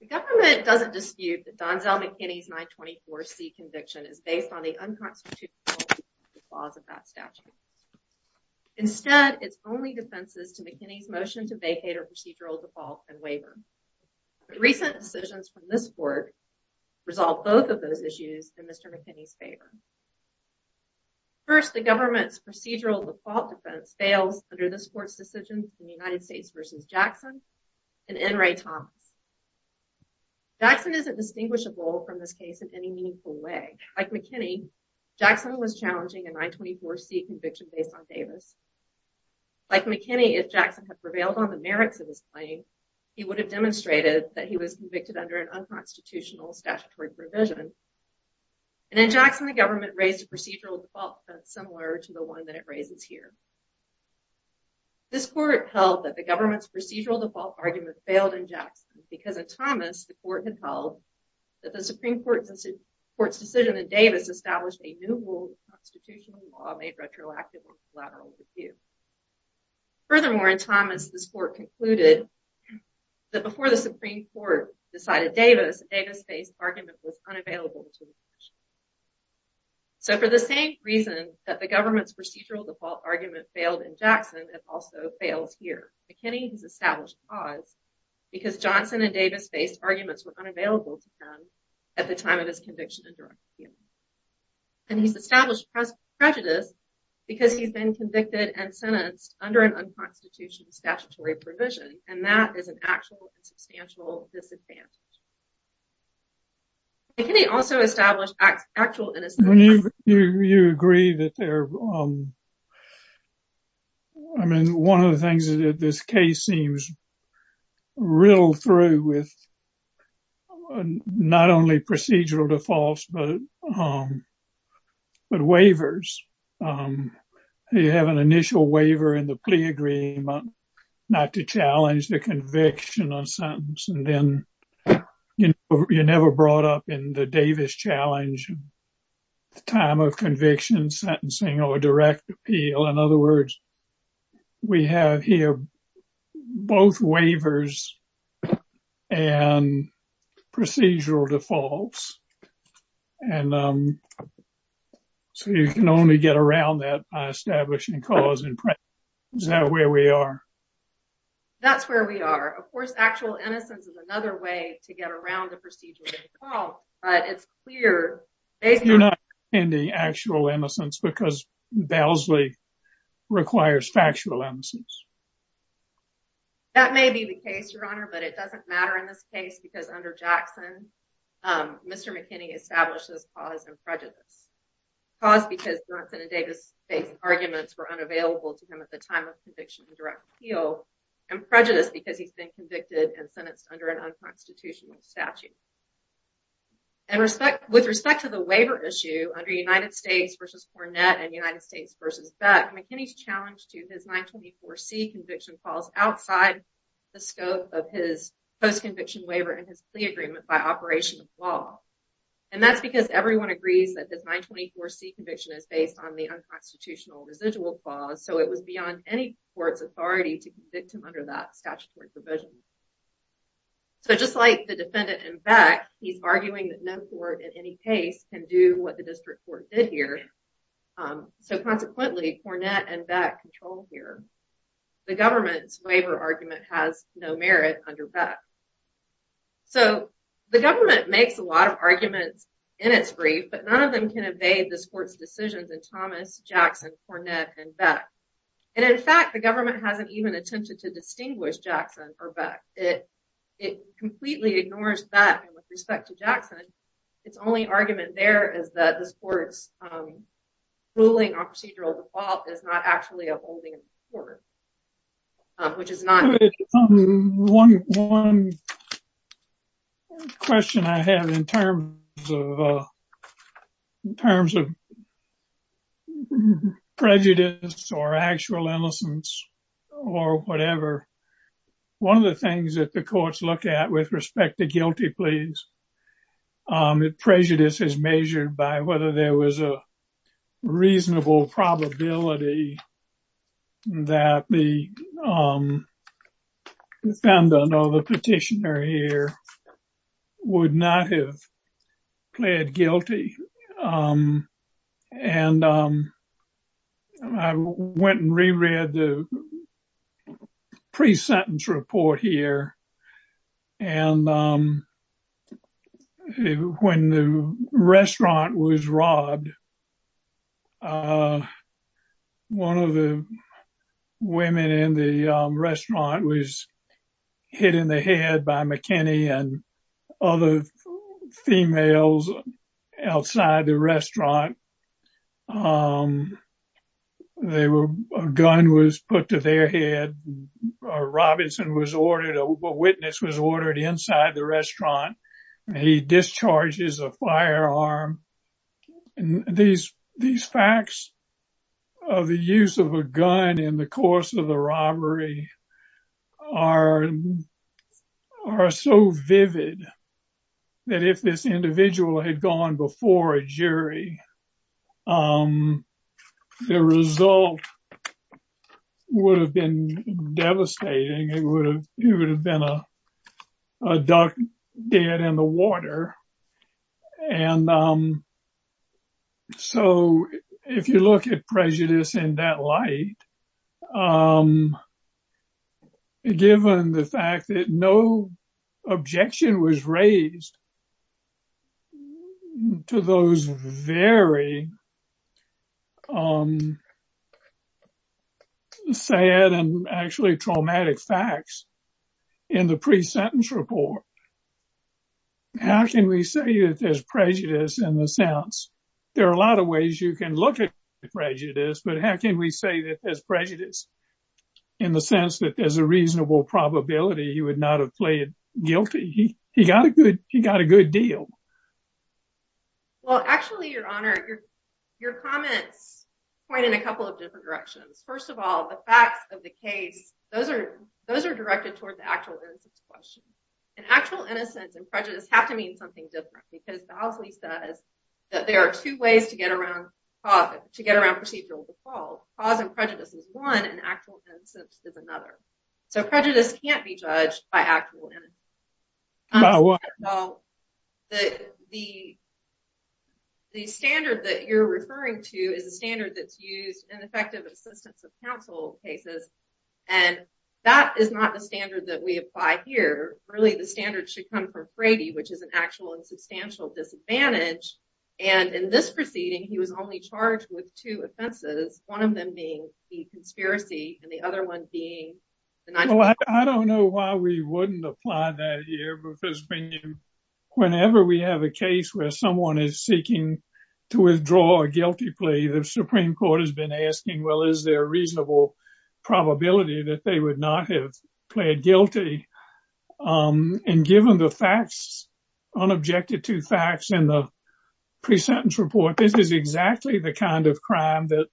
The government doesn't dispute that Donzell McKinney's 924C conviction is based on the unconstitutional rules and laws of that statute. Instead, it's only defenses to McKinney's motion to vacate her procedural default and waiver. But recent decisions from this court resolve both of those issues in Mr. McKinney's favor. First, the government's procedural default defense fails under this court's decision in the United States v. Jackson and N. Ray Thomas. Jackson isn't distinguishable from this case in any meaningful way. Like McKinney, Jackson was challenging a 924C conviction based on Davis. Like McKinney, if Jackson had prevailed on the merits of his claim, he would have demonstrated that he was convicted under an unconstitutional statutory provision. And in Jackson, the government raised a procedural default similar to the one that it raises here. This court held that the government's procedural default argument failed in Jackson because in Thomas, the court had held that the Supreme Court's decision in Davis established a new rule of constitutional law made retroactive on collateral review. Furthermore, in Thomas, this court concluded that before the Supreme Court decided Davis, a Davis-based argument was unavailable to the judge. So, for the same reason that the government's procedural default argument failed in Jackson, it also fails here. McKinney has established cause because Johnson and Davis-based arguments were unavailable to him at the time of his conviction and direct appeal. And he's established prejudice because he's been convicted and sentenced under an unconstitutional statutory provision. And that is an actual and substantial disadvantage. McKinney also established actual innocence. You agree that there, I mean, one of the things that this case seems real through with not only procedural defaults, but waivers. You have an initial waiver in the plea agreement not to challenge the conviction or sentence. And then you're never brought up in the Davis challenge time of conviction, sentencing, or direct appeal. In other words, we have here both waivers and procedural defaults. And so you can only get around that by establishing cause and prejudice. Is that where we are? That's where we are. Of course, actual innocence is another way to get around the procedural default. You're not in the actual innocence because Bellesley requires factual innocence. That may be the case, Your Honor, but it doesn't matter in this case because under Jackson, Mr. McKinney establishes cause and prejudice. Cause because Johnson and Davis-based arguments were unavailable to him at the time of conviction and direct appeal. And prejudice because he's been convicted and sentenced under an unconstitutional statute. And with respect to the waiver issue under United States v. Cornett and United States v. Beck, McKinney's challenge to his 924C conviction falls outside the scope of his post-conviction waiver and his plea agreement by operation of law. And that's because everyone agrees that this 924C conviction is based on the unconstitutional residual clause, so it was beyond any court's authority to convict him under that statutory provision. So, just like the defendant in Beck, he's arguing that no court in any case can do what the district court did here. So, consequently, Cornett and Beck control here. The government's waiver argument has no merit under Beck. So, the government makes a lot of arguments in its brief, but none of them can evade this court's decisions in Thomas, Jackson, Cornett, and Beck. And in fact, the government hasn't even attempted to distinguish Jackson or Beck. It completely ignores Beck with respect to Jackson. Its only argument there is that this court's ruling on procedural default is not actually upholding the court, which is not. One question I have in terms of prejudice or actual innocence or whatever. One of the things that the courts look at with respect to guilty pleas. Prejudice is measured by whether there was a reasonable probability that the defendant or the petitioner here would not have pled guilty. And I went and reread the pre-sentence report here. And when the restaurant was robbed, one of the women in the restaurant was hit in the head by McKinney and other females outside. A gun was put to their head. A witness was ordered inside the restaurant. He discharges a firearm. These facts of the use of a gun in the course of the robbery are so vivid that if this individual had gone before a jury, the result would have been devastating. It would have been a duck dead in the water. And so if you look at prejudice in that light, given the fact that no objection was raised to those very sad and actually traumatic facts in the pre-sentence report. How can we say that there's prejudice in the sense? There are a lot of ways you can look at prejudice, but how can we say that there's prejudice in the sense that there's a reasonable probability he would not have pled guilty? He got a good deal. Well, actually, Your Honor, your comments point in a couple of different directions. First of all, the facts of the case, those are directed toward the actual innocence question. Actual innocence and prejudice have to mean something different because Bosley says that there are two ways to get around procedural default. Cause and prejudice is one and actual innocence is another. So prejudice can't be judged by actual innocence. By what? The standard that you're referring to is a standard that's used in effective assistance of counsel cases. And that is not the standard that we apply here. Really, the standard should come from Frady, which is an actual and substantial disadvantage. And in this proceeding, he was only charged with two offenses. One of them being the conspiracy and the other one being. I don't know why we wouldn't apply that here because whenever we have a case where someone is seeking to withdraw a guilty plea, the Supreme Court has been asking, well, is there a reasonable probability that they would not have pled guilty? And given the facts, unobjected to facts in the pre-sentence report, this is exactly the kind of crime that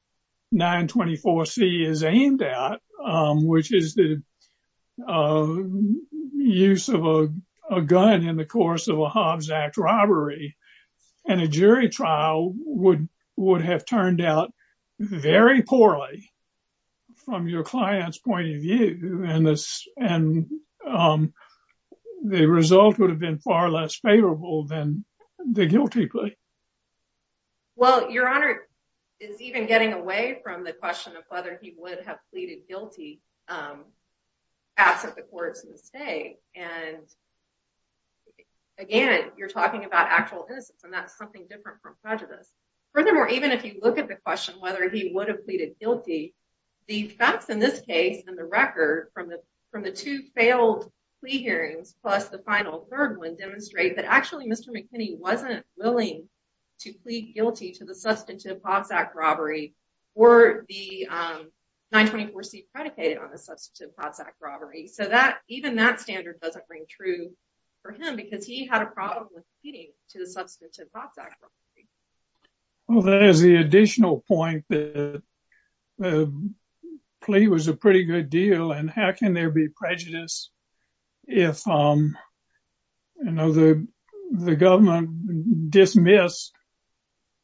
924C is aimed at, which is the use of a gun in the course of a Hobbs Act robbery. And a jury trial would have turned out very poorly from your client's point of view. And the result would have been far less favorable than the guilty plea. Well, your honor is even getting away from the question of whether he would have pleaded guilty. Um, absent the court's mistake. And again, you're talking about actual innocence and that's something different from prejudice. Furthermore, even if you look at the question, whether he would have pleaded guilty, the facts in this case and the record from the from the two failed plea hearings, plus the final third one demonstrate that actually Mr. McKinney wasn't willing to plead guilty to the substantive Hobbs Act robbery or the 924C predicated on the substantive Hobbs Act robbery. So that even that standard doesn't ring true for him because he had a problem with pleading to the substantive Hobbs Act robbery. Well, that is the additional point that the plea was a pretty good deal. And how can there be prejudice if the government dismissed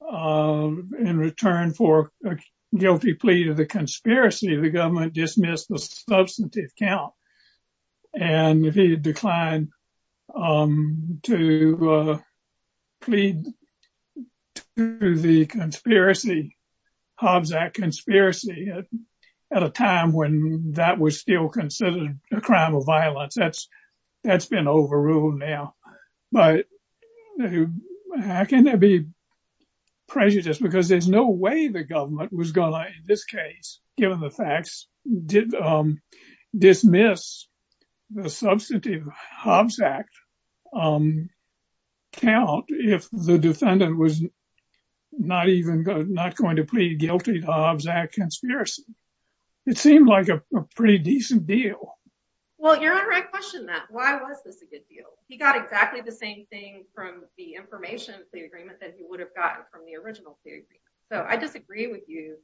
in return for a guilty plea to the conspiracy, the government dismissed the substantive count. And if he declined to plead to the conspiracy, Hobbs Act conspiracy at a time when that was still considered a crime of violence, that's that's been overruled now. But how can there be prejudice because there's no way the government was going to, in this case, given the facts, dismiss the substantive Hobbs Act count if the defendant was not even not going to plead guilty to Hobbs Act conspiracy. It seemed like a pretty decent deal. Well, you're on the right question that why was this a good deal? He got exactly the same thing from the information, the agreement that he would have gotten from the original. So I disagree with you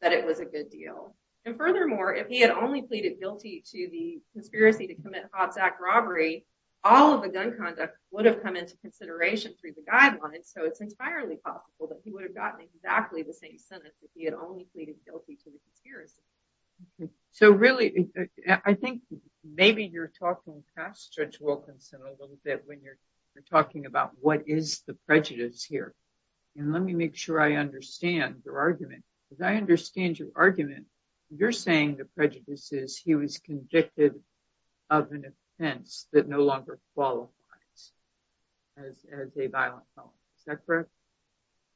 that it was a good deal. And furthermore, if he had only pleaded guilty to the conspiracy to commit Hobbs Act robbery, all of the gun conduct would have come into consideration through the guidelines. So it's entirely possible that he would have gotten exactly the same sentence if he had only pleaded guilty to the conspiracy. So really, I think maybe you're talking past Judge Wilkinson a little bit when you're talking about what is the prejudice here. And let me make sure I understand your argument, because I understand your argument. You're saying the prejudice is he was convicted of an offense that no longer qualifies as a violent felon. Is that correct?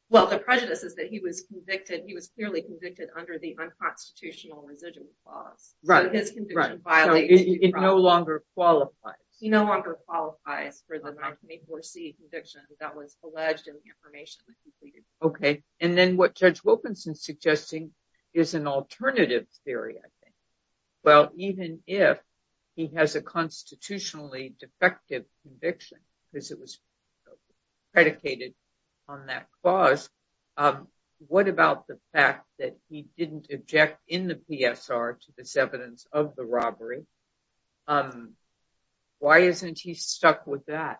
Well, the prejudice is that he was convicted. He was clearly convicted under the unconstitutional residual clause. Right. So his conviction violates. It no longer qualifies. He no longer qualifies for the 924C conviction that was alleged in the information that he pleaded guilty to. Okay. And then what Judge Wilkinson is suggesting is an alternative theory, I think. Well, even if he has a constitutionally defective conviction, because it was predicated on that clause, what about the fact that he didn't object in the PSR to this evidence of the robbery? Why isn't he stuck with that?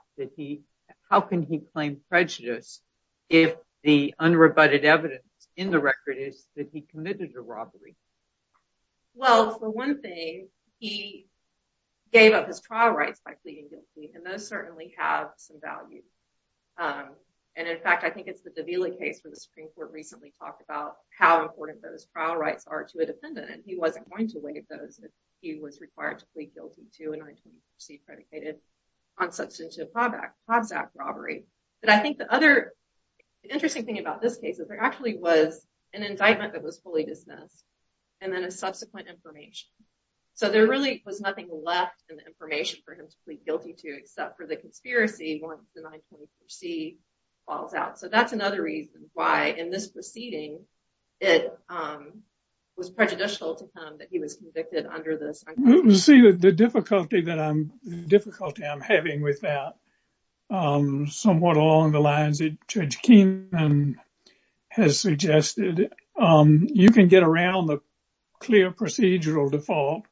How can he claim prejudice if the unrebutted evidence in the record is that he committed a robbery? Well, for one thing, he gave up his trial rights by pleading guilty, and those certainly have some value. And in fact, I think it's the Davila case where the Supreme Court recently talked about how important those trial rights are to a defendant. And he wasn't going to waive those if he was required to plead guilty to a 924C predicated, unsubstantial clause act robbery. But I think the other interesting thing about this case is there actually was an indictment that was fully dismissed and then a subsequent information. So there really was nothing left in the information for him to plead guilty to except for the conspiracy once the 924C falls out. So that's another reason why in this proceeding, it was prejudicial to him that he was convicted under this. You see, the difficulty that I'm having with that, somewhat along the lines that Judge Keenan has suggested, you can get around the clear procedural default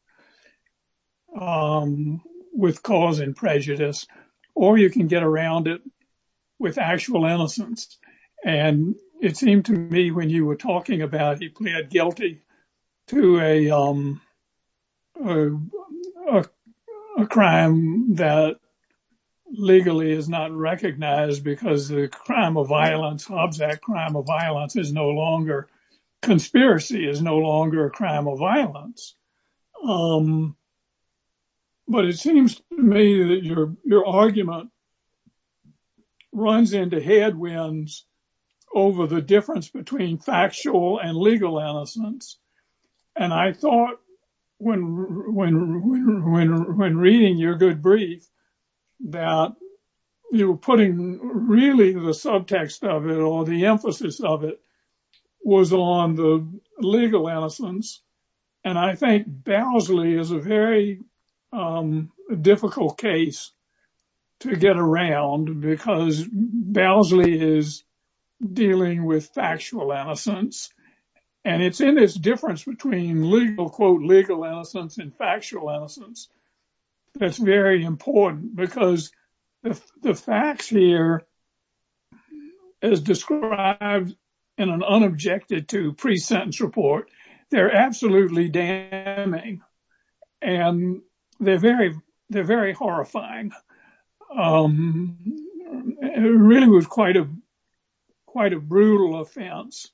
with cause and prejudice, or you can get around it with actual innocence. And it seemed to me when you were talking about he plead guilty to a crime that legally is not recognized because the crime of violence, runs into headwinds over the difference between factual and legal innocence. And I thought when reading your good brief that you were putting really the subtext of it or the emphasis of it was on the legal innocence. And I think Bowsley is a very difficult case to get around because Bowsley is dealing with factual innocence. And it's in this difference between legal, quote, legal innocence and factual innocence. That's very important because the facts here as described in an unobjected to pre-sentence report, they're absolutely damning. And they're very, they're very horrifying. It really was quite a brutal offense,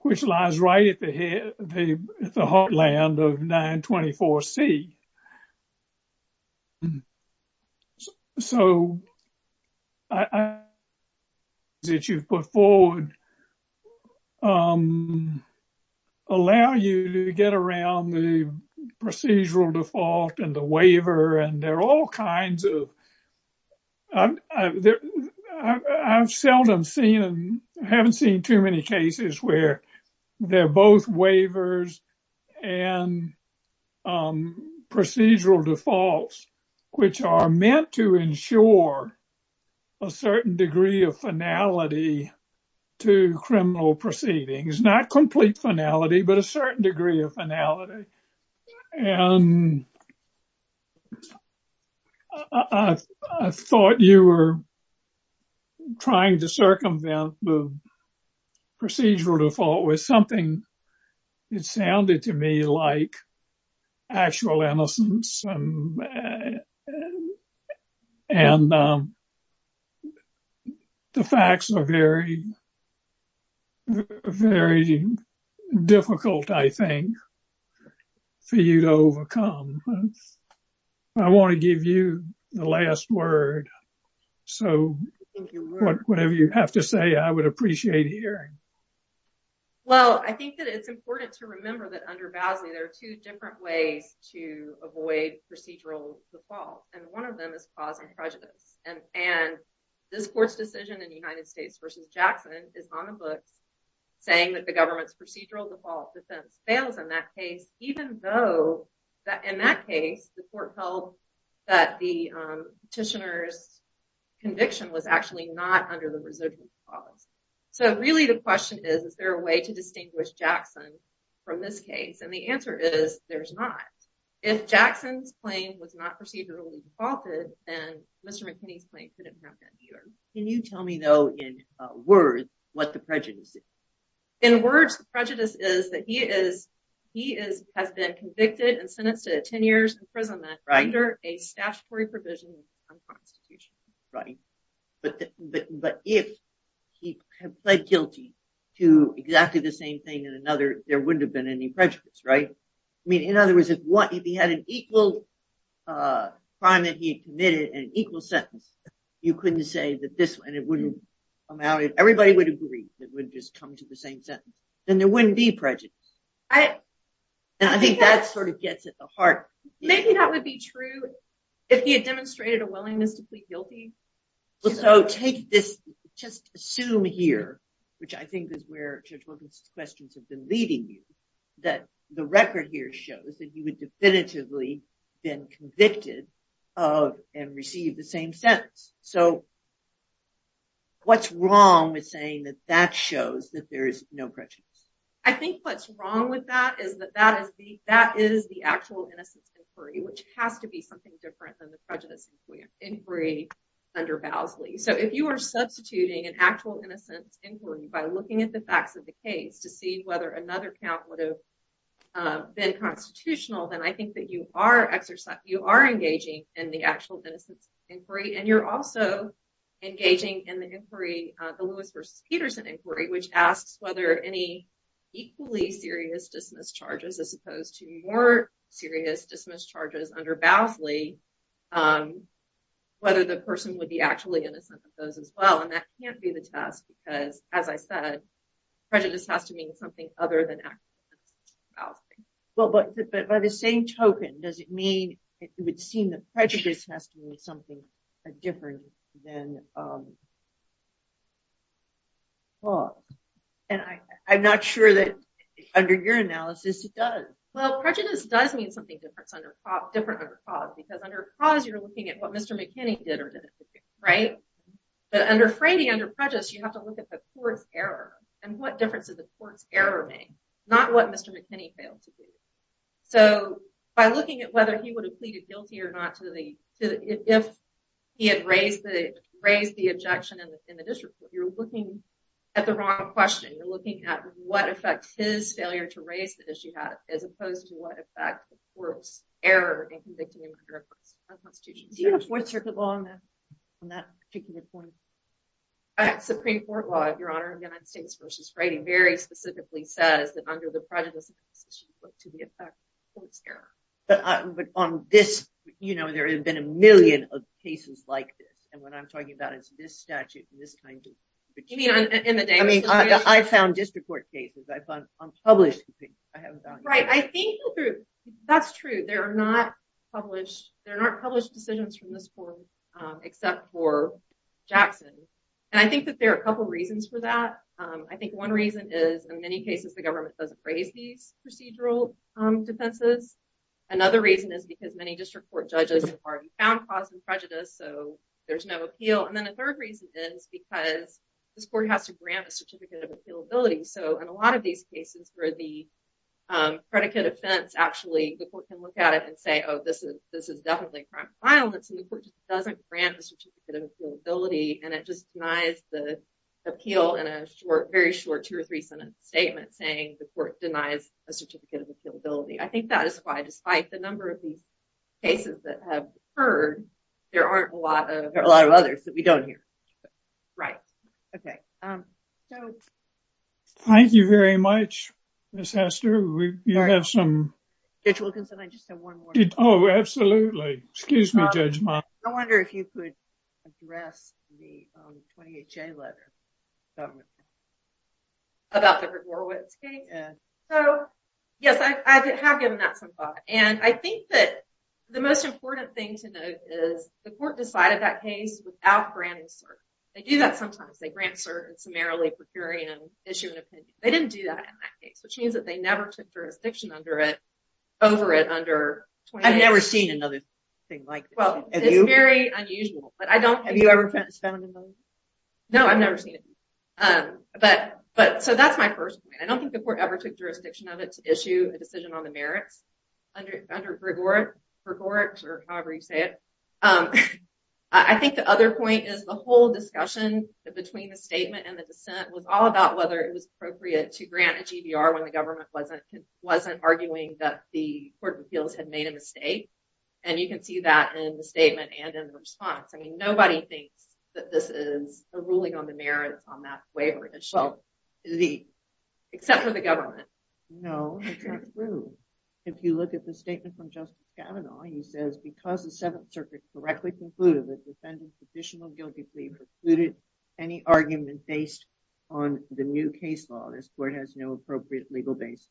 which lies right at the heartland of 924C. So, I think that you've put forward, allow you to get around the procedural default and the waiver and there are all kinds of, I've seldom seen and haven't seen too many cases where they're both waivers and procedural defaults, which are meant to ensure a certain degree of finality to criminal proceedings, not complete finality, but a certain degree of finality. And I thought you were trying to circumvent the procedural default with something that sounded to me like actual innocence. And the facts are very, very difficult, I think, for you to overcome. I want to give you the last word. So, whatever you have to say, I would appreciate hearing. Well, I think that it's important to remember that under Basley, there are two different ways to avoid procedural default. And one of them is cause and prejudice. And this court's decision in United States v. Jackson is on the books, saying that the government's procedural default defense fails in that case, even though, in that case, the court held that the petitioner's conviction was actually not under the residual clause. So, really, the question is, is there a way to distinguish Jackson from this case? And the answer is, there's not. If Jackson's claim was not procedurally defaulted, then Mr. McKinney's claim couldn't have been either. Can you tell me, though, in words, what the prejudice is? In words, the prejudice is that he has been convicted and sentenced to 10 years imprisonment under a statutory provision of the Constitution. But if he had pled guilty to exactly the same thing in another, there wouldn't have been any prejudice, right? I mean, in other words, if he had an equal crime that he had committed and an equal sentence, you couldn't say that this one wouldn't come out. Everybody would agree that it would just come to the same sentence. Then there wouldn't be prejudice. And I think that sort of gets at the heart. Maybe that would be true if he had demonstrated a willingness to plead guilty. So, take this, just assume here, which I think is where Judge Wilkinson's questions have been leading you, that the record here shows that he would definitively have been convicted of and received the same sentence. So, what's wrong with saying that that shows that there is no prejudice? I think what's wrong with that is that that is the actual innocence inquiry, which has to be something different than the prejudice inquiry under Bowsley. So, if you are substituting an actual innocence inquiry by looking at the facts of the case to see whether another count would have been constitutional, then I think that you are engaging in the actual innocence inquiry. And you're also engaging in the inquiry, the Lewis v. Peterson inquiry, which asks whether any equally serious dismiss charges as opposed to more serious dismiss charges under Bowsley, whether the person would be actually innocent of those as well. And that can't be the test because, as I said, prejudice has to mean something other than actually innocent under Bowsley. Well, but by the same token, does it mean it would seem that prejudice has to mean something different than cause? And I'm not sure that under your analysis it does. Well, prejudice does mean something different under cause because under cause you're looking at what Mr. McKinney did or didn't do, right? But under Frady, under prejudice, you have to look at the court's error and what difference did the court's error make, not what Mr. McKinney failed to do. So, by looking at whether he would have pleaded guilty or not if he had raised the objection in the district court, you're looking at the wrong question. You're looking at what affects his failure to raise the issue as opposed to what affects the court's error in convicting him under a constitutional statute. Do you have a Fourth Circuit law on that particular point? Supreme Court law, Your Honor, in the United States v. Frady, very specifically says that under the prejudice, you should look to the effect of the court's error. But on this, you know, there have been a million cases like this, and what I'm talking about is this statute and this kind of thing. I mean, I found district court cases. I found unpublished cases. Right, I think that's true. There are not published decisions from this court except for Jackson. And I think that there are a couple reasons for that. I think one reason is in many cases the government doesn't raise these procedural defenses. Another reason is because many district court judges have already found cause of prejudice, so there's no appeal. And then a third reason is because this court has to grant a certificate of appealability. And so in a lot of these cases where the predicate offense actually, the court can look at it and say, oh, this is definitely a crime of violence, and the court just doesn't grant a certificate of appealability, and it just denies the appeal in a very short two or three sentence statement saying the court denies a certificate of appealability. I think that is why, despite the number of these cases that have occurred, there aren't a lot of others that we don't hear. Right. Okay. Thank you very much, Ms. Hester. Judge Wilkinson, I just have one more question. Oh, absolutely. Excuse me, Judge Monk. I wonder if you could address the 28-J letter. About the Gregorowitz case? So, yes, I have given that some thought. And I think that the most important thing to note is the court decided that case without granting cert. They do that sometimes. They grant cert and summarily procure and issue an opinion. They didn't do that in that case, which means that they never took jurisdiction over it under 28-J. I've never seen another thing like this. Well, it's very unusual. Have you ever found another thing? No, I've never seen it. So that's my first point. I don't think the court ever took jurisdiction of it to issue a decision on the merits under Gregorowitz or however you say it. I think the other point is the whole discussion between the statement and the dissent was all about whether it was appropriate to grant a GBR when the government wasn't arguing that the court of appeals had made a mistake. And you can see that in the statement and in the response. I mean, nobody thinks that this is a ruling on the merits on that waiver issue, except for the government. No, it's not true. If you look at the statement from Justice Kavanaugh, he says, Because the Seventh Circuit correctly concluded that defendants' additional guilty plea precluded any argument based on the new case law, this court has no appropriate legal basis.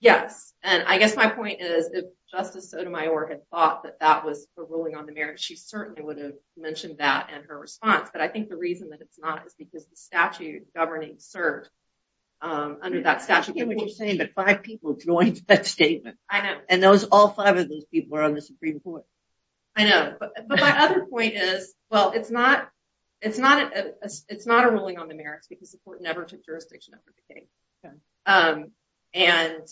Yes. And I guess my point is if Justice Sotomayor had thought that that was a ruling on the merits, she certainly would have mentioned that in her response. But I think the reason that it's not is because the statute governing cert under that statute. I get what you're saying, but five people joined that statement. I know. And all five of those people were on the Supreme Court. I know. But my other point is, well, it's not a ruling on the merits because the court never took jurisdiction over the case. And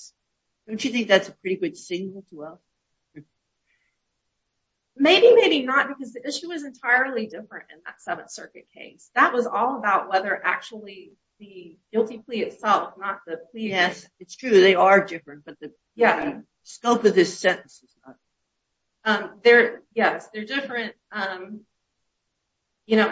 don't you think that's a pretty good signal as well? Maybe, maybe not, because the issue is entirely different in that Seventh Circuit case. That was all about whether actually the guilty plea itself, not the plea. Yes, it's true. They are different, but the scope of this sentence is not. Yes, they're different. I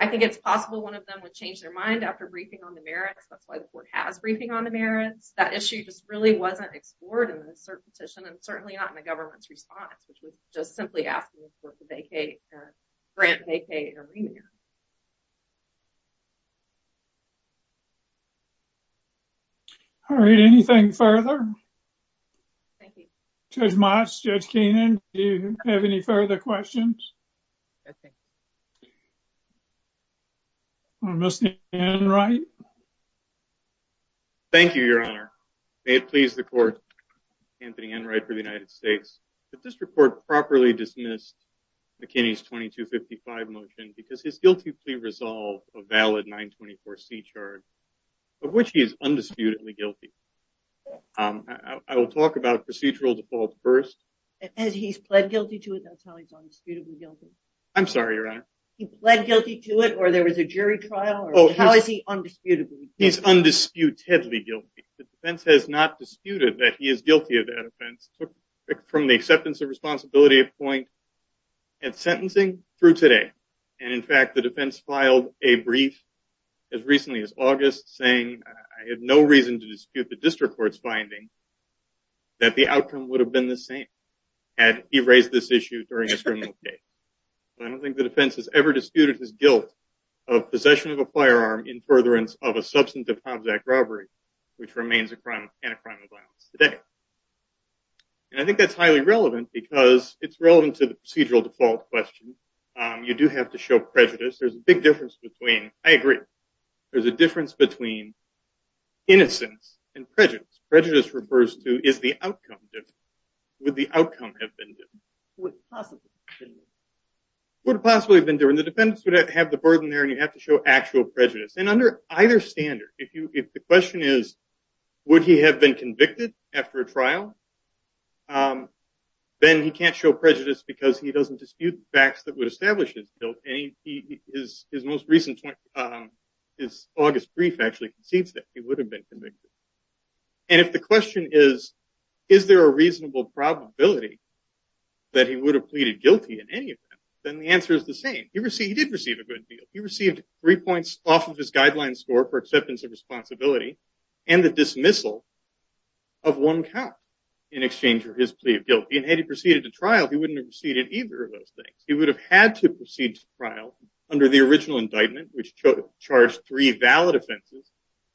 think it's possible one of them would change their mind after briefing on the merits. That's why the court has briefing on the merits. That issue just really wasn't explored in the cert petition and certainly not in the government's response, which was just simply asking the court to grant vacay or remand. All right. Anything further? Thank you. Judge Motz, Judge Keenan, do you have any further questions? No, thank you. Mr. Enright. Thank you, Your Honor. May it please the court, Anthony Enright for the United States. If this report properly dismissed McKinney's 2255 motion because his guilty plea resolved a valid 924C charge of which he is undisputedly guilty. I will talk about procedural default first. As he's pled guilty to it, that's how he's undisputably guilty. I'm sorry, Your Honor. He pled guilty to it or there was a jury trial? How is he undisputedly guilty? He's undisputedly guilty. The defense has not disputed that he is guilty of that offense. From the acceptance of responsibility of point at sentencing through today. And, in fact, the defense filed a brief as recently as August saying, I have no reason to dispute the district court's finding that the outcome would have been the same had he raised this issue during his criminal case. I don't think the defense has ever disputed his guilt of possession of a firearm in furtherance of a substantive Hobbs Act robbery, which remains a crime and a crime of violence today. And I think that's highly relevant because it's relevant to the procedural default question. You do have to show prejudice. There's a big difference between. I agree. There's a difference between innocence and prejudice. Prejudice refers to is the outcome. Would the outcome have been. Would it possibly have been during the defendants would have to have the burden there and you have to show actual prejudice. And under either standard, if you if the question is, would he have been convicted after a trial? Then he can't show prejudice because he doesn't dispute facts that would establish his guilt. His most recent is August brief actually concedes that he would have been convicted. And if the question is, is there a reasonable probability that he would have pleaded guilty in any event, then the answer is the same. He received he did receive a good deal. He received three points off of his guideline score for acceptance of responsibility and the dismissal of one count in exchange for his plea of guilt. And had he proceeded to trial, he wouldn't have receded either of those things. He would have had to proceed to trial under the original indictment, which charged three valid offenses,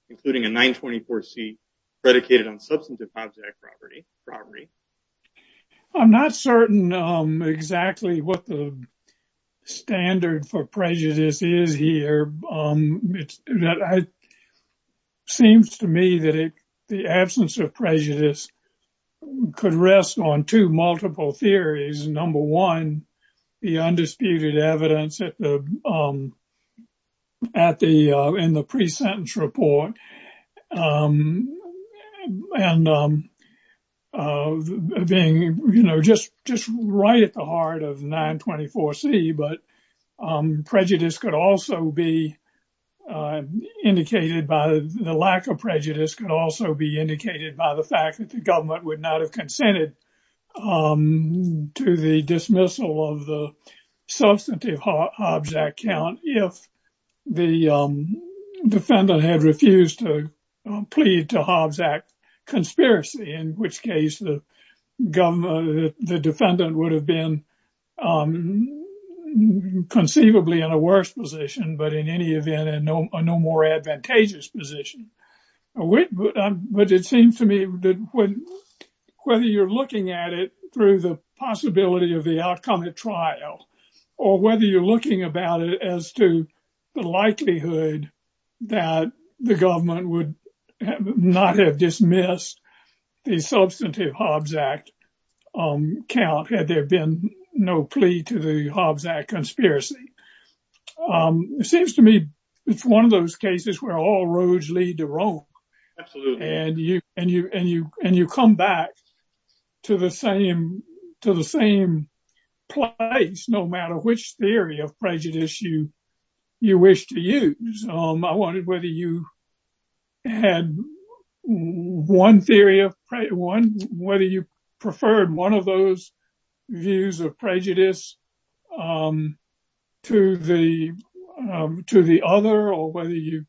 including a 924 C predicated on substantive object property property. I'm not certain exactly what the standard for prejudice is here. It seems to me that the absence of prejudice could rest on two multiple theories. Number one, the undisputed evidence at the at the in the pre-sentence report and being, you know, just just right at the heart of 924 C. But prejudice could also be indicated by the lack of prejudice can also be indicated by the fact that the government would not have consented to the dismissal of the substantive object count. If the defendant had refused to plead to Hobbs Act conspiracy, in which case the government, the defendant would have been conceivably in a worse position, but in any event, and no more advantageous position. But it seems to me that whether you're looking at it through the possibility of the outcome of trial or whether you're looking about it as to the likelihood that the government would not have dismissed the substantive Hobbs Act count had there been no plea to the Hobbs Act conspiracy. It seems to me it's one of those cases where all roads lead to Rome and you and you and you and you come back to the same to the same place, no matter which theory of prejudice you you wish to use. I wondered whether you had one theory of one, whether you preferred one of those views of prejudice to the to the other, or whether you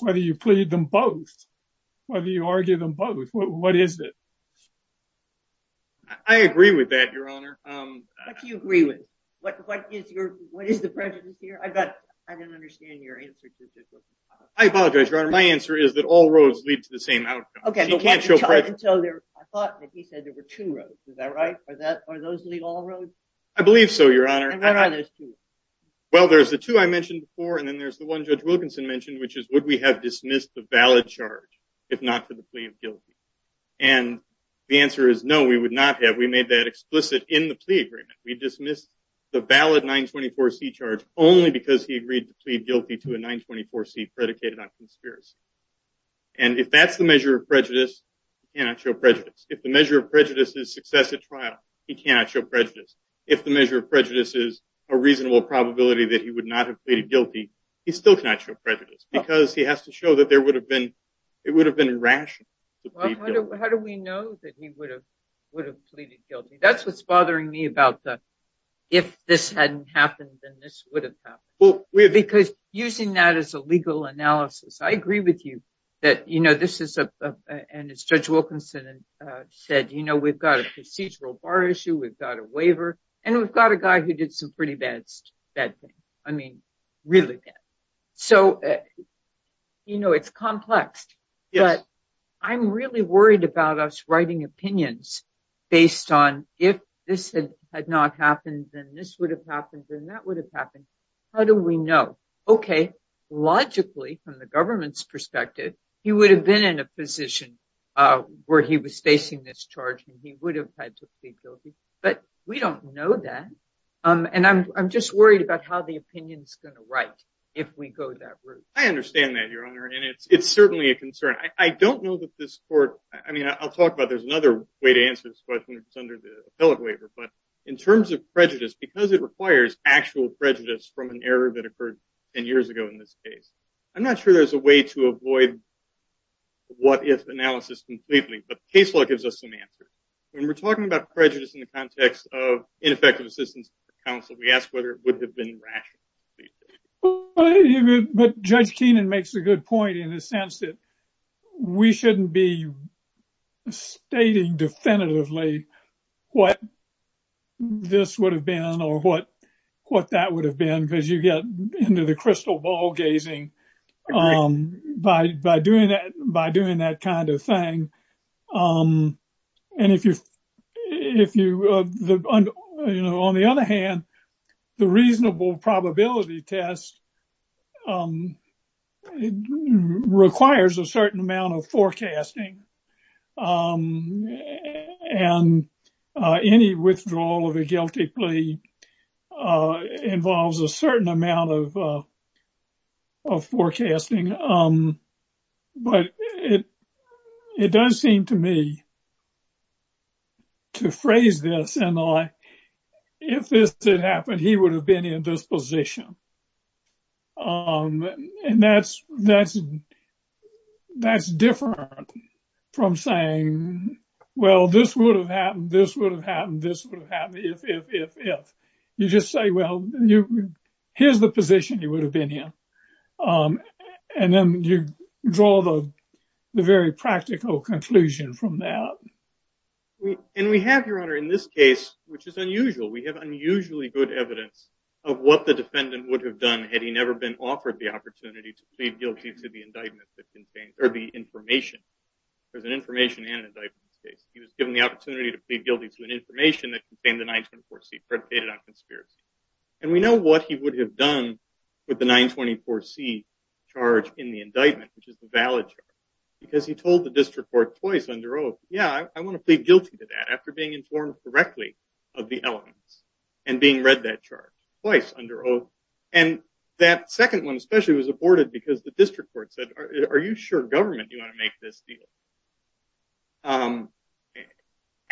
whether you plead them both, whether you argue them both. What is it? I agree with that, Your Honor. What do you agree with? What, what is your, what is the prejudice here? I bet I didn't understand your answer. I apologize, Your Honor. My answer is that all roads lead to the same outcome. Okay. So I thought that he said there were two roads. Is that right? Are those all roads? I believe so. Your Honor. Well, there's the two I mentioned before. And then there's the one Judge Wilkinson mentioned, which is would we have dismissed the valid charge if not for the plea of guilty? And the answer is no, we would not have. We made that explicit in the plea agreement. We dismissed the valid 924C charge only because he agreed to plead guilty to a 924C predicated on conspiracy. And if that's the measure of prejudice, he cannot show prejudice. If the measure of prejudice is success at trial, he cannot show prejudice. If the measure of prejudice is a reasonable probability that he would not have pleaded guilty, he still cannot show prejudice because he has to show that there would have been, it would have been rational to plead guilty. Well, how do we know that he would have pleaded guilty? That's what's bothering me about the if this hadn't happened, then this would have happened. Because using that as a legal analysis, I agree with you that, you know, this is a, and as Judge Wilkinson said, you know, we've got a procedural bar issue. We've got a waiver. And we've got a guy who did some pretty bad things. I mean, really bad. So, you know, it's complex. But I'm really worried about us writing opinions based on if this had not happened, then this would have happened, then that would have happened. How do we know? Okay. Logically, from the government's perspective, he would have been in a position where he was facing this charge and he would have had to plead guilty. But we don't know that. And I'm just worried about how the opinion is going to write if we go that route. I understand that, Your Honor. And it's certainly a concern. I don't know that this court, I mean, I'll talk about there's another way to answer this question, which is under the appellate waiver. But in terms of prejudice, because it requires actual prejudice from an error that occurred 10 years ago in this case, I'm not sure there's a way to avoid what-if analysis completely. But the case law gives us some answers. When we're talking about prejudice in the context of ineffective assistance to counsel, we ask whether it would have been rational. But Judge Keenan makes a good point in the sense that we shouldn't be stating definitively what this would have been or what that would have been because you get into the crystal ball gazing by doing that kind of thing. And if you, you know, on the other hand, the reasonable probability test requires a certain amount of forecasting and any withdrawal of a guilty plea involves a certain amount of forecasting. But it does seem to me to phrase this in the light, if this did happen, he would have been in this position. And that's different from saying, well, this would have happened, this would have happened, this would have happened, if, if, if, if. You just say, well, here's the position he would have been in. And then you draw the very practical conclusion from that. And we have, Your Honor, in this case, which is unusual, we have unusually good evidence of what the defendant would have done had he never been offered the opportunity to plead guilty to the indictment that contains, or the information. There's an information and an indictment case. He was given the opportunity to plead guilty to an information that contained the 924C predicated on conspiracy. And we know what he would have done with the 924C charge in the indictment, which is the valid charge. Because he told the district court twice under oath, yeah, I want to plead guilty to that after being informed correctly of the elements and being read that charge twice under oath. And that second one especially was aborted because the district court said, are you sure government do you want to make this deal?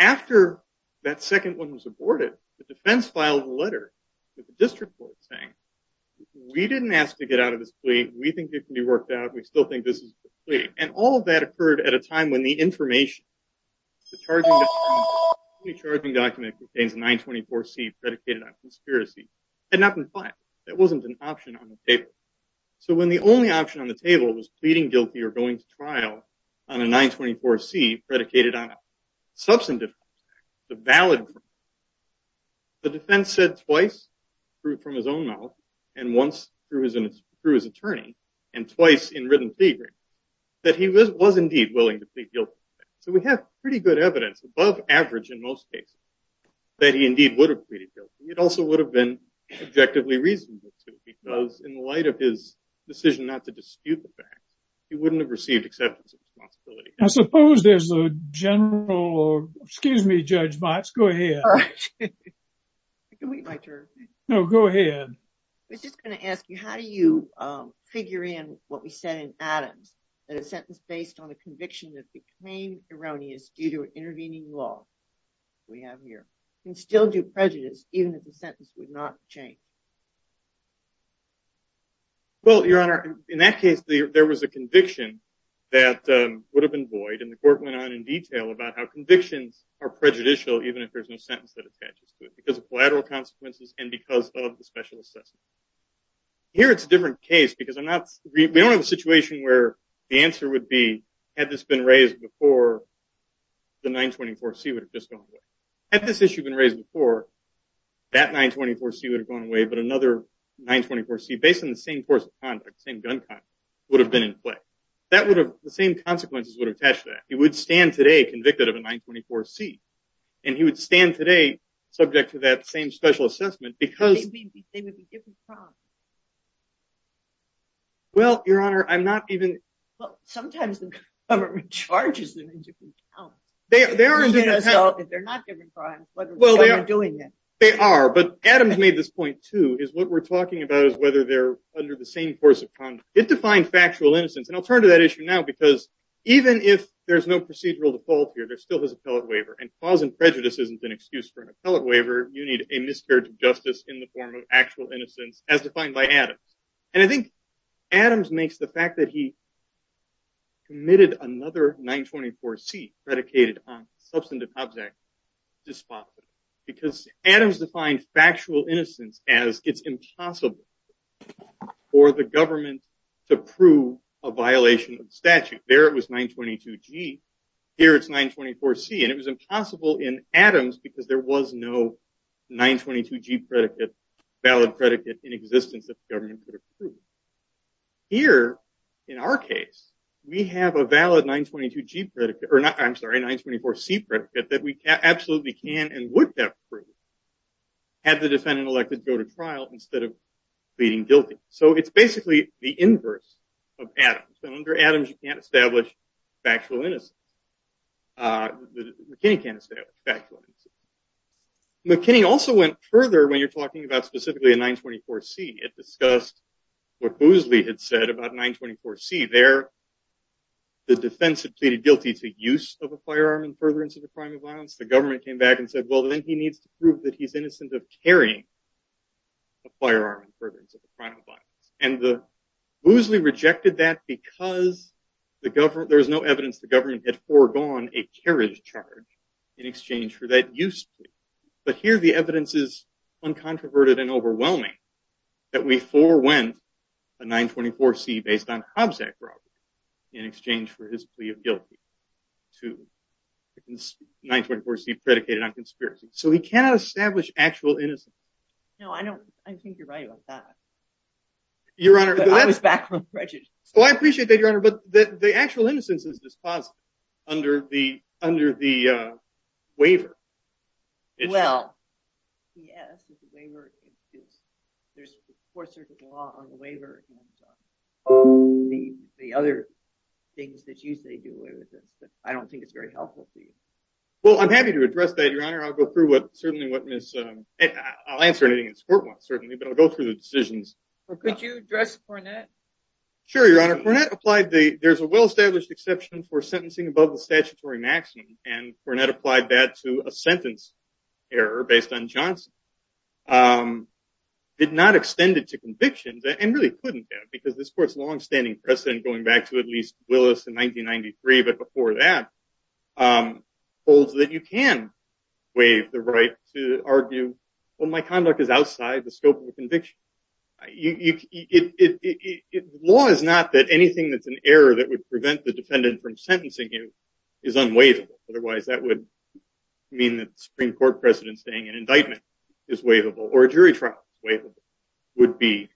After that second one was aborted, the defense filed a letter to the district court saying, we didn't ask to get out of this plea, we think it can be worked out, we still think this is a plea. And all of that occurred at a time when the information, the charging document contains the 924C predicated on conspiracy, had not been filed. That wasn't an option on the table. So when the only option on the table was pleading guilty or going to trial on a 924C predicated on a substantive fact, the valid fact, the defense said twice, through from his own mouth, and once through his attorney, and twice in written theory, that he was indeed willing to plead guilty. So we have pretty good evidence, above average in most cases, that he indeed would have pleaded guilty. It also would have been objectively reasonable, too, because in light of his decision not to dispute the fact, he wouldn't have received acceptance of responsibility. I suppose there's a general, excuse me, Judge Botts, go ahead. I can wait my turn. No, go ahead. I was just going to ask you, how do you figure in what we said in Adams, that a sentence based on a conviction that became erroneous due to intervening law, we have here, can still do prejudice even if the sentence would not change? Well, Your Honor, in that case, there was a conviction that would have been void, and the court went on in detail about how convictions are prejudicial even if there's no sentence that attaches to it, because of collateral consequences and because of the special assessment. Here it's a different case, because I'm not, we don't have a situation where the answer would be, had this been raised before, the 924C would have just gone away. Had this issue been raised before, that 924C would have gone away, but another 924C, based on the same course of conduct, same gun conduct, would have been in play. That would have, the same consequences would have attached to that. He would stand today convicted of a 924C, and he would stand today subject to that same special assessment, because They would be different problems. Well, Your Honor, I'm not even Well, sometimes the government charges them in different accounts. They're not different crimes, but they're doing it. They are, but Adams made this point too, is what we're talking about is whether they're under the same course of conduct. It defined factual innocence, and I'll turn to that issue now, because even if there's no procedural default here, there still is appellate waiver, and cause and prejudice isn't an excuse for an appellate waiver. You need a miscarriage of justice in the form of actual innocence as defined by Adams. And I think Adams makes the fact that he committed another 924C, predicated on the Substantive Hubs Act, despicable. Because Adams defined factual innocence as it's impossible for the government to prove a violation of the statute. Right there it was 922G, here it's 924C, and it was impossible in Adams because there was no 922G predicate, valid predicate in existence that the government could approve. Here, in our case, we have a valid 924C predicate that we absolutely can and would have approved had the defendant elected to go to trial instead of pleading guilty. So it's basically the inverse of Adams, and under Adams you can't establish factual innocence. McKinney can't establish factual innocence. McKinney also went further when you're talking about specifically a 924C. It discussed what Boozley had said about 924C. There, the defense had pleaded guilty to use of a firearm in furtherance of a crime of violence. The government came back and said, well, then he needs to prove that he's innocent of carrying a firearm in furtherance of a crime of violence. And Boozley rejected that because there was no evidence the government had foregone a carriage charge in exchange for that use plea. So he cannot establish actual innocence. No, I don't. I think you're right about that. Your Honor. I was back on prejudice. Oh, I appreciate that, Your Honor, but the actual innocence is dispositive under the waiver. Well, yes, the waiver is, there's a Fourth Circuit law on the waiver and the other things that you say do away with this, but I don't think it's very helpful to you. Well, I'm happy to address that, Your Honor. I'll go through what, certainly what Ms., I'll answer anything this court wants, certainly, but I'll go through the decisions. Could you address Cornett? Sure, Your Honor. Cornett applied the, there's a well-established exception for sentencing above the statutory maximum, and Cornett applied that to a sentence error based on Johnson. Did not extend it to convictions, and really couldn't have, because this court's longstanding precedent, going back to at least Willis in 1993, but before that, holds that you can waive the right to argue, well, my conduct is outside the scope of the conviction. Law is not that anything that's an error that would prevent the defendant from sentencing you is unwaivable. Otherwise, that would mean that the Supreme Court precedent saying an indictment is waivable, or a jury trial is waivable, would be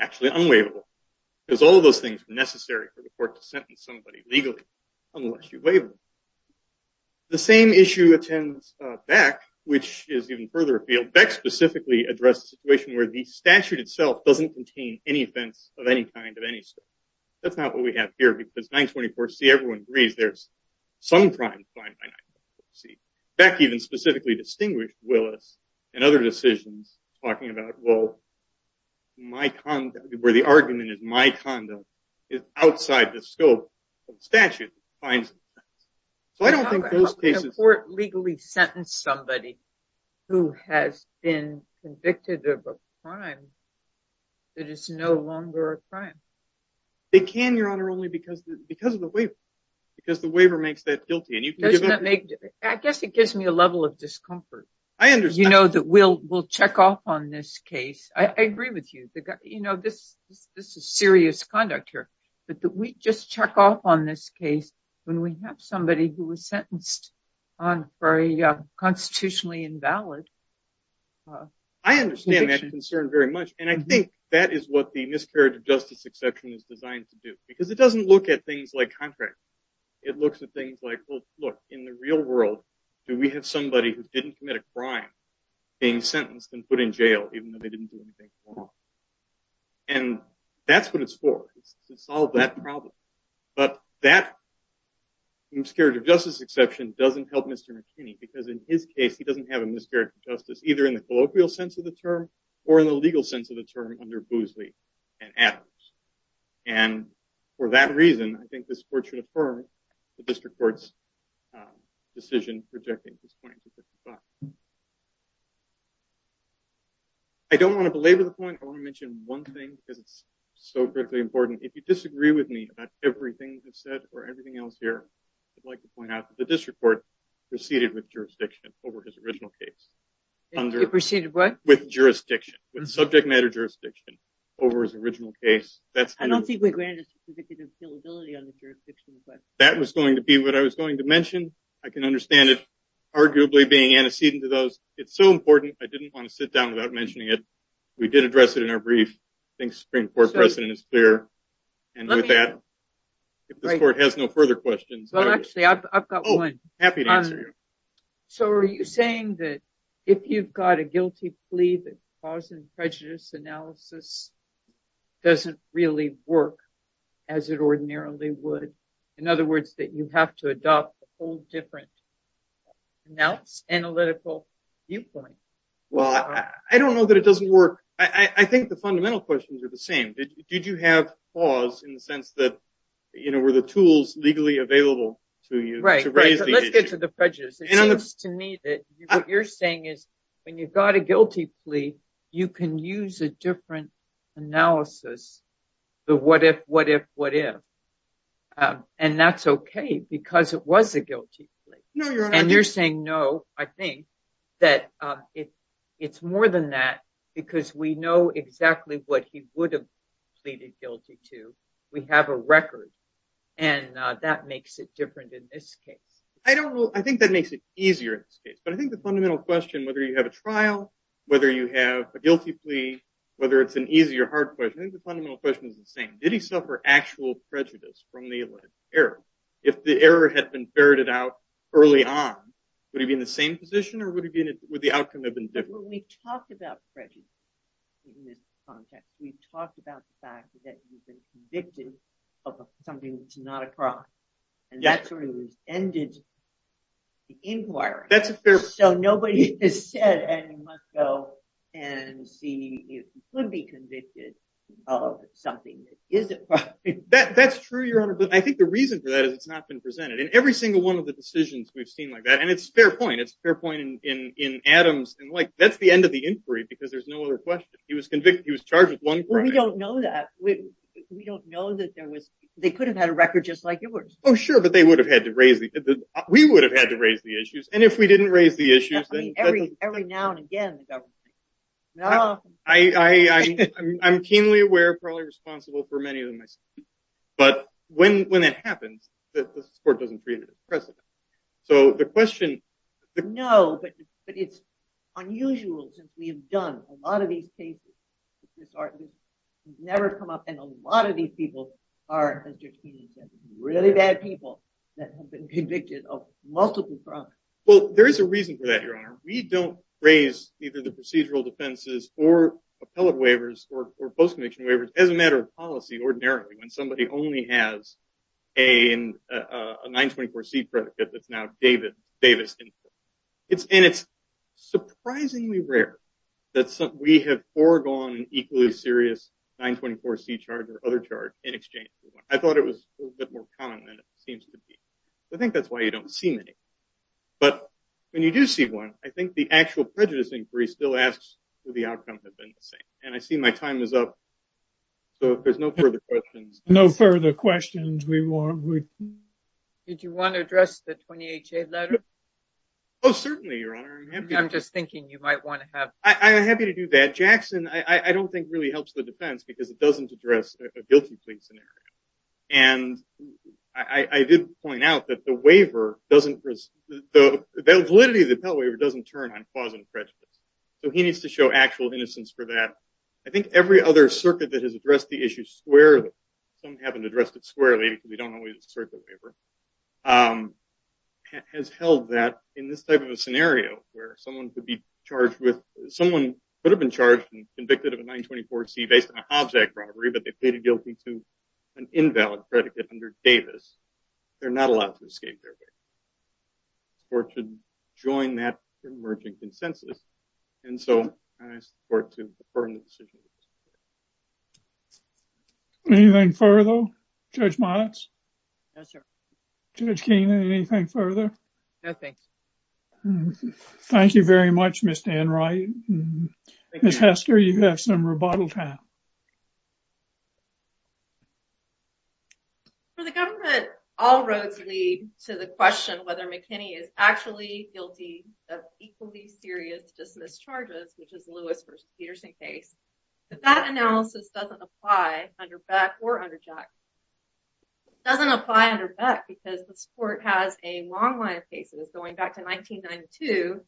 actually unwaivable, because all of those things are necessary for the court to sentence somebody legally, unless you waive them. The same issue attends Beck, which is even further afield. Beck specifically addressed the situation where the statute itself doesn't contain any offense of any kind of any scope. That's not what we have here, because 924C, everyone agrees there's some crime defined by 924C. Beck even specifically distinguished Willis and other decisions, talking about, well, my conduct, where the argument is my conduct is outside the scope of the statute. So I don't think those cases... How can a court legally sentence somebody who has been convicted of a crime that is no longer a crime? They can, Your Honor, only because of the waiver. Because the waiver makes that guilty. I guess it gives me a level of discomfort. I understand. You know, that we'll check off on this case. I agree with you. You know, this is serious conduct here. But we just check off on this case when we have somebody who was sentenced for a constitutionally invalid conviction. I understand that concern very much. And I think that is what the miscarriage of justice exception is designed to do. Because it doesn't look at things like contracts. It looks at things like, well, look, in the real world, do we have somebody who didn't commit a crime being sentenced and put in jail, even though they didn't do anything wrong? And that's what it's for, is to solve that problem. But that miscarriage of justice exception doesn't help Mr. McKinney, because in his case, he doesn't have a miscarriage of justice, either in the colloquial sense of the term or in the legal sense of the term under Boosley and Adams. And for that reason, I think this court should affirm the district court's decision rejecting this point. I don't want to belabor the point. I want to mention one thing, because it's so critically important. If you disagree with me about everything I've said or everything else here, I'd like to point out that the district court proceeded with jurisdiction over his original case. It proceeded what? With jurisdiction, with subject matter jurisdiction over his original case. I don't think we granted a certificate of guillibility on the jurisdiction request. That was going to be what I was going to mention. I can understand it arguably being antecedent to those. It's so important. I didn't want to sit down without mentioning it. We did address it in our brief. I think Supreme Court precedent is clear. And with that, if this court has no further questions. Well, actually, I've got one. Oh, happy to answer you. So are you saying that if you've got a guilty plea that cause and prejudice analysis doesn't really work as it ordinarily would? In other words, that you have to adopt a whole different analytical viewpoint? Well, I don't know that it doesn't work. I think the fundamental questions are the same. Did you have pause in the sense that, you know, were the tools legally available to you? Right. Let's get to the prejudice. It seems to me that what you're saying is when you've got a guilty plea, you can use a different analysis. The what if, what if, what if. And that's OK because it was a guilty plea. And you're saying no. I think that it's more than that because we know exactly what he would have pleaded guilty to. We have a record. And that makes it different in this case. I don't know. I think that makes it easier in this case. But I think the fundamental question, whether you have a trial, whether you have a guilty plea, whether it's an easy or hard question, I think the fundamental question is the same. Did he suffer actual prejudice from the alleged error? If the error had been ferreted out early on, would he be in the same position or would the outcome have been different? But when we talk about prejudice in this context, we've talked about the fact that you've been convicted of something that's not a crime. And that's where we've ended the inquiry. So nobody has said you must go and see if you could be convicted of something that isn't a crime. That's true, Your Honor. But I think the reason for that is it's not been presented. In every single one of the decisions we've seen like that. And it's a fair point. It's a fair point in Adams. And, like, that's the end of the inquiry because there's no other question. He was convicted. He was charged with one crime. Well, we don't know that. We don't know that there was they could have had a record just like yours. Oh, sure. But they would have had to raise it. We would have had to raise the issues. And if we didn't raise the issues. Every now and again, the government. I'm keenly aware, probably responsible for many of them myself. But when it happens, the court doesn't create a precedent. So the question. No, but it's unusual. We have done a lot of these cases. It's never come up. And a lot of these people are really bad people that have been convicted of multiple crimes. Well, there is a reason for that, Your Honor. We don't raise either the procedural defenses or appellate waivers or post-conviction waivers as a matter of policy ordinarily. When somebody only has a 924C predicate that's now Davis. And it's surprisingly rare that we have foregone an equally serious 924C charge or other charge in exchange for one. I thought it was a little bit more common than it seems to be. I think that's why you don't see many. But when you do see one, I think the actual prejudice inquiry still asks will the outcome have been the same. And I see my time is up. So if there's no further questions. No further questions. Did you want to address the 20HA letter? Oh, certainly, Your Honor. I'm just thinking you might want to have. I'm happy to do that. Jackson, I don't think really helps the defense because it doesn't address a guilty plea scenario. And I did point out that the waiver doesn't, the validity of the appellate waiver doesn't turn on cause and prejudice. So he needs to show actual innocence for that. But I think every other circuit that has addressed the issue squarely, some haven't addressed it squarely, because we don't always assert the waiver, has held that in this type of a scenario where someone could be charged with, someone could have been charged and convicted of a 924C based on a Hobbs Act robbery, but they pleaded guilty to an invalid predicate under Davis. They're not allowed to escape their way or to join that emerging consensus. And so I support to affirm the decision. Anything further, Judge Motz? No, sir. Judge Keenan, anything further? No, thanks. Thank you very much, Ms. Danwright. Ms. Hester, you have some rebuttal time. For the government, all roads lead to the question whether McKinney is actually guilty of equally serious dismiss charges, which is Lewis v. Peterson case. But that analysis doesn't apply under Beck or under Jackson. It doesn't apply under Beck because this court has a long line of cases going back to 1992,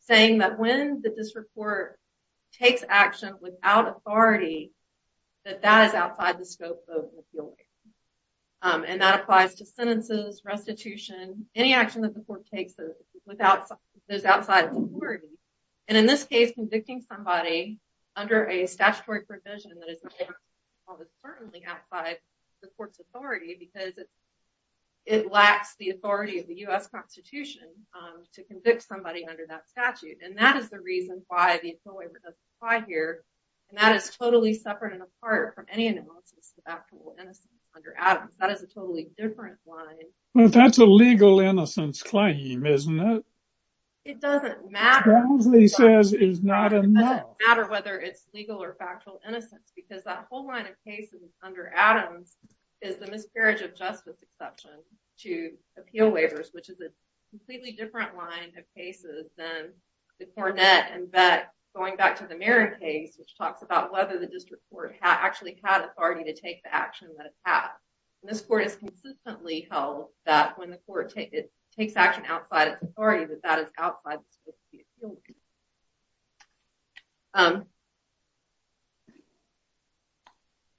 saying that when this court takes action without authority, that that is outside the scope of an appeal. And that applies to sentences, restitution, any action that the court takes that is outside its authority. And in this case, convicting somebody under a statutory provision that is certainly outside the court's authority because it lacks the authority of the U.S. Constitution to convict somebody under that statute. And that is the reason why the appeal waiver doesn't apply here. And that is totally separate and apart from any analysis of actual innocence under Adams. That is a totally different line. But that's a legal innocence claim, isn't it? It doesn't matter. Brownsley says it's not enough. It doesn't matter whether it's legal or factual innocence because that whole line of cases under Adams is the miscarriage of justice exception to appeal waivers, which is a completely different line of cases than the Cornett and Beck going back to the Marin case, which talks about whether the district court actually had authority to take the action that it had. And this court has consistently held that when the court takes action outside its authority, that that is outside the scope of the appeal.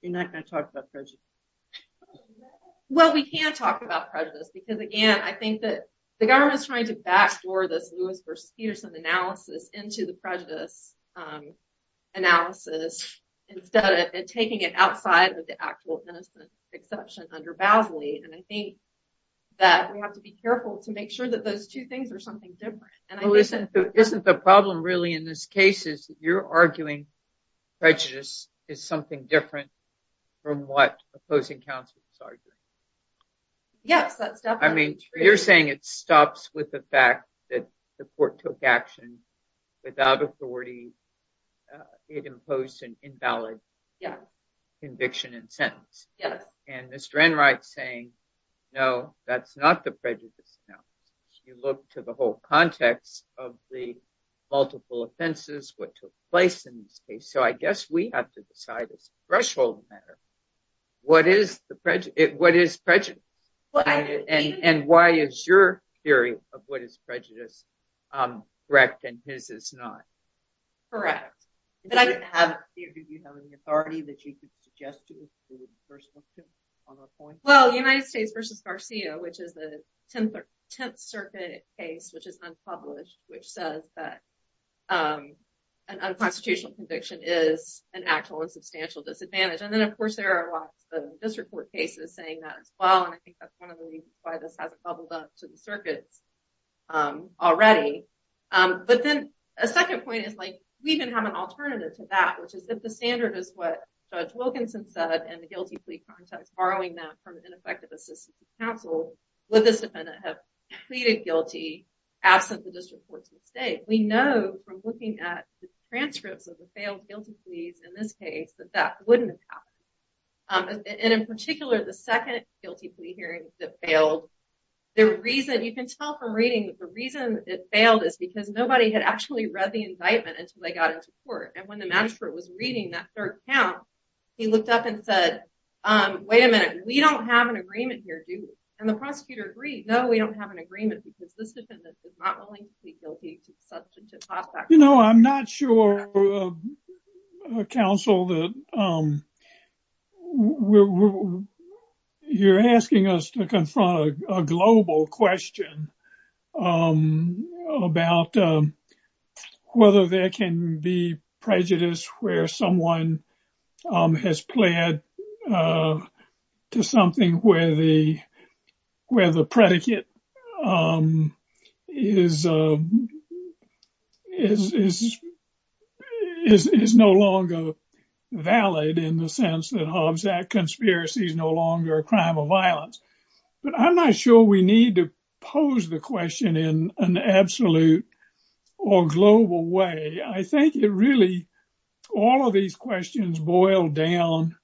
You're not going to talk about prejudice? Well, we can talk about prejudice because, again, I think that the government is trying to backstore this Lewis v. Peterson analysis into the prejudice analysis instead of taking it outside of the actual innocence exception under Basley. And I think that we have to be careful to make sure that those two things are something different. Isn't the problem really in this case is that you're arguing prejudice is something different from what opposing counsel is arguing? Yes, that's definitely true. I mean, you're saying it stops with the fact that the court took action without authority. It imposed an invalid conviction and sentence. Yes. And Mr. Enright saying, no, that's not the prejudice. Now, you look to the whole context of the multiple offenses, what took place in this case. So I guess we have to decide it's a threshold matter. What is the prejudice? What is prejudice? And why is your theory of what is prejudice correct and his is not? Correct. But I didn't have a theory. Do you have any authority that you could suggest to me? Well, the United States versus Garcia, which is the 10th Circuit case, which is unpublished, which says that an unconstitutional conviction is an actual and substantial disadvantage. And then, of course, there are lots of disreport cases saying that as well. And I think that's one of the reasons why this hasn't bubbled up to the circuits already. But then a second point is like we even have an alternative to that, which is that the standard is what Judge Wilkinson said. And the guilty plea context, borrowing that from ineffective assistance to counsel, would this defendant have pleaded guilty absent the district court's mistake? We know from looking at the transcripts of the failed guilty pleas in this case that that wouldn't have happened. And in particular, the second guilty plea hearing that failed, the reason you can tell from reading, the reason it failed is because nobody had actually read the indictment until they got into court. And when the magistrate was reading that third count, he looked up and said, wait a minute. We don't have an agreement here, do we? And the prosecutor agreed. No, we don't have an agreement because this defendant is not willing to plead guilty to such and such. You know, I'm not sure, counsel, that you're asking us to confront a global question about whether there can be prejudice where someone has pled to something where the predicate is no longer valid in the sense that Hobbs Act conspiracy is no longer a crime of violence. But I'm not sure we need to pose the question in an absolute or global way. I think it really, all of these questions boil down,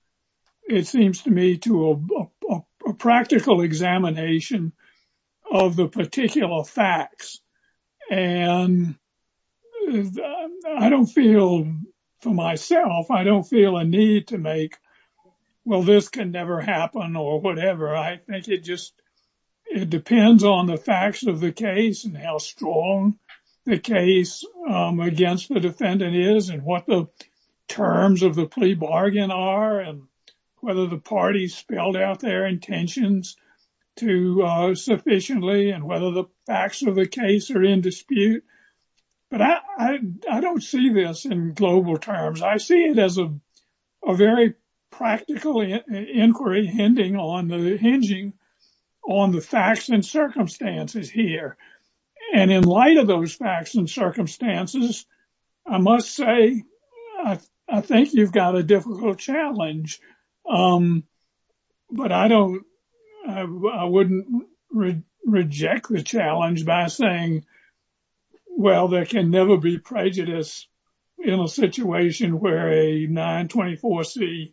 it seems to me, to a practical examination of the particular facts. And I don't feel, for myself, I don't feel a need to make, well, this can never happen or whatever. I think it just depends on the facts of the case and how strong the case against the defendant is and what the terms of the plea bargain are and whether the parties spelled out their intentions sufficiently and whether the facts of the case are in dispute. But I don't see this in global terms. I see it as a very practical inquiry hinging on the facts and circumstances here. And in light of those facts and circumstances, I must say, I think you've got a difficult challenge. But I don't, I wouldn't reject the challenge by saying, well, there can never be prejudice in a situation where a 924c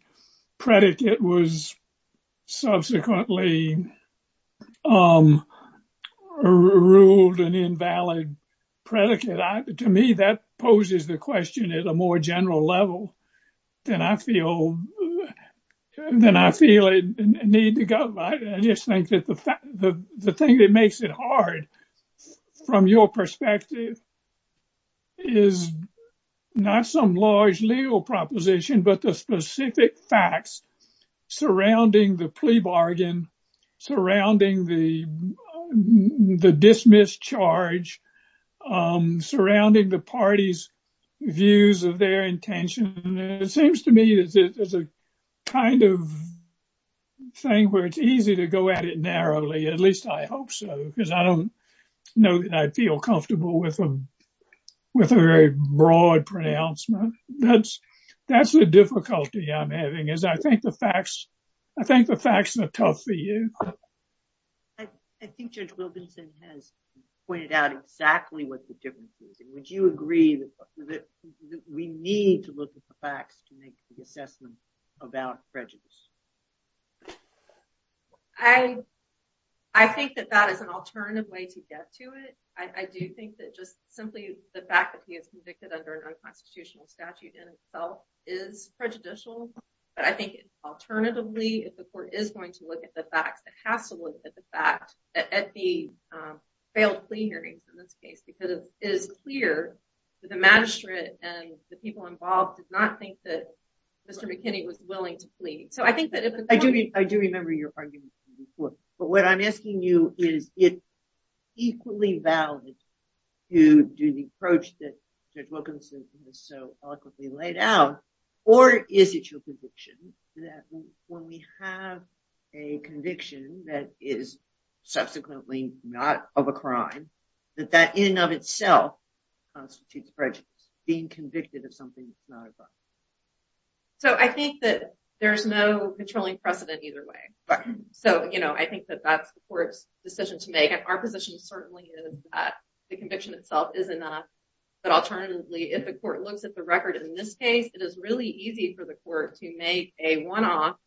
predicate was subsequently ruled an invalid predicate. To me, that poses the question at a more general level than I feel, than I feel a need to go. I just think that the thing that makes it hard, from your perspective, is not some large legal proposition, but the specific facts surrounding the plea bargain, surrounding the dismissed charge, surrounding the parties' views of their intention. It seems to me that there's a kind of thing where it's easy to go at it narrowly. At least I hope so, because I don't know that I feel comfortable with a very broad pronouncement. That's the difficulty I'm having, is I think the facts, I think the facts are tough for you. I think Judge Wilkinson has pointed out exactly what the difference is. Would you agree that we need to look at the facts to make the assessment about prejudice? I think that that is an alternative way to get to it. I do think that just simply the fact that he is convicted under an unconstitutional statute in itself is prejudicial. But I think alternatively, if the court is going to look at the facts, it has to look at the failed plea hearings in this case, because it is clear that the magistrate and the people involved did not think that Mr. McKinney was willing to plead. I do remember your argument in court. But what I'm asking you is, is it equally valid to do the approach that Judge Wilkinson has so eloquently laid out, or is it your conviction that when we have a conviction that is subsequently not of a crime, that that in and of itself constitutes prejudice, being convicted of something that's not a crime? I think that there's no controlling precedent either way. I think that that's the court's decision to make. Our position certainly is that the conviction itself is enough. But alternatively, if the court looks at the record in this case, it is really easy for the court to make a one-off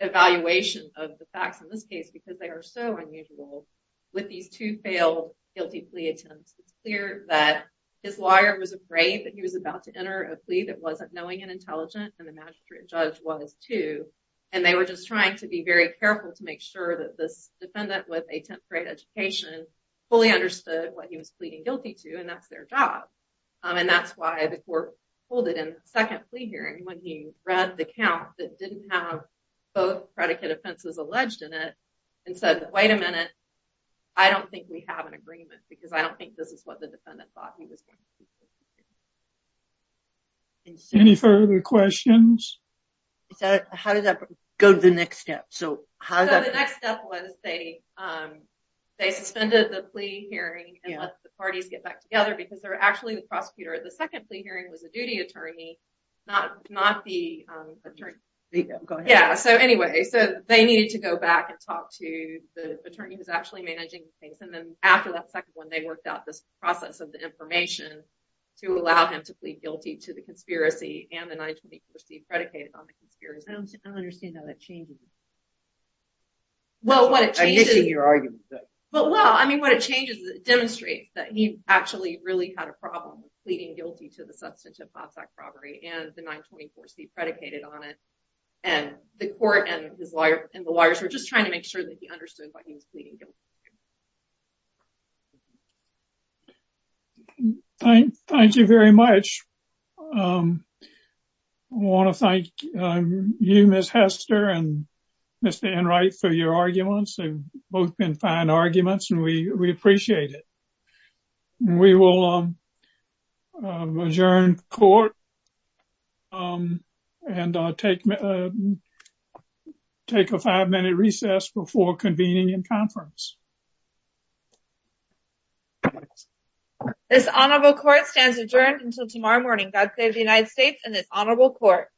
evaluation of the facts in this case, because they are so unusual with these two failed guilty plea attempts. It's clear that his lawyer was afraid that he was about to enter a plea that wasn't knowing and intelligent, and the magistrate judge was too. And they were just trying to be very careful to make sure that this defendant with a tenth-grade education fully understood what he was pleading guilty to, and that's their job. And that's why the court pulled it in the second plea hearing, when he read the count that didn't have both predicate offenses alleged in it, and said, wait a minute, I don't think we have an agreement, because I don't think this is what the defendant thought he was going to plead guilty to. Any further questions? How did that go to the next step? The next step was they suspended the plea hearing and let the parties get back together, because they're actually the prosecutor. The second plea hearing was a duty attorney, not the attorney. So anyway, they needed to go back and talk to the attorney who's actually managing the case, and then after that second one, they worked out this process of the information to allow him to plead guilty to the conspiracy and the 924c predicated on the conspiracy. I don't understand how that changes it. Well, what it changes is it demonstrates that he actually really had a problem with pleading guilty to the substantive hot-sack robbery and the 924c predicated on it, and the court and the lawyers were just trying to make sure that he understood why he was pleading guilty. Thank you very much. I want to thank you, Ms. Hester, and Mr. Enright for your arguments. They've both been fine arguments, and we appreciate it. We will adjourn court and take a five-minute recess before convening in conference. This honorable court stands adjourned until tomorrow morning. God save the United States and this honorable court.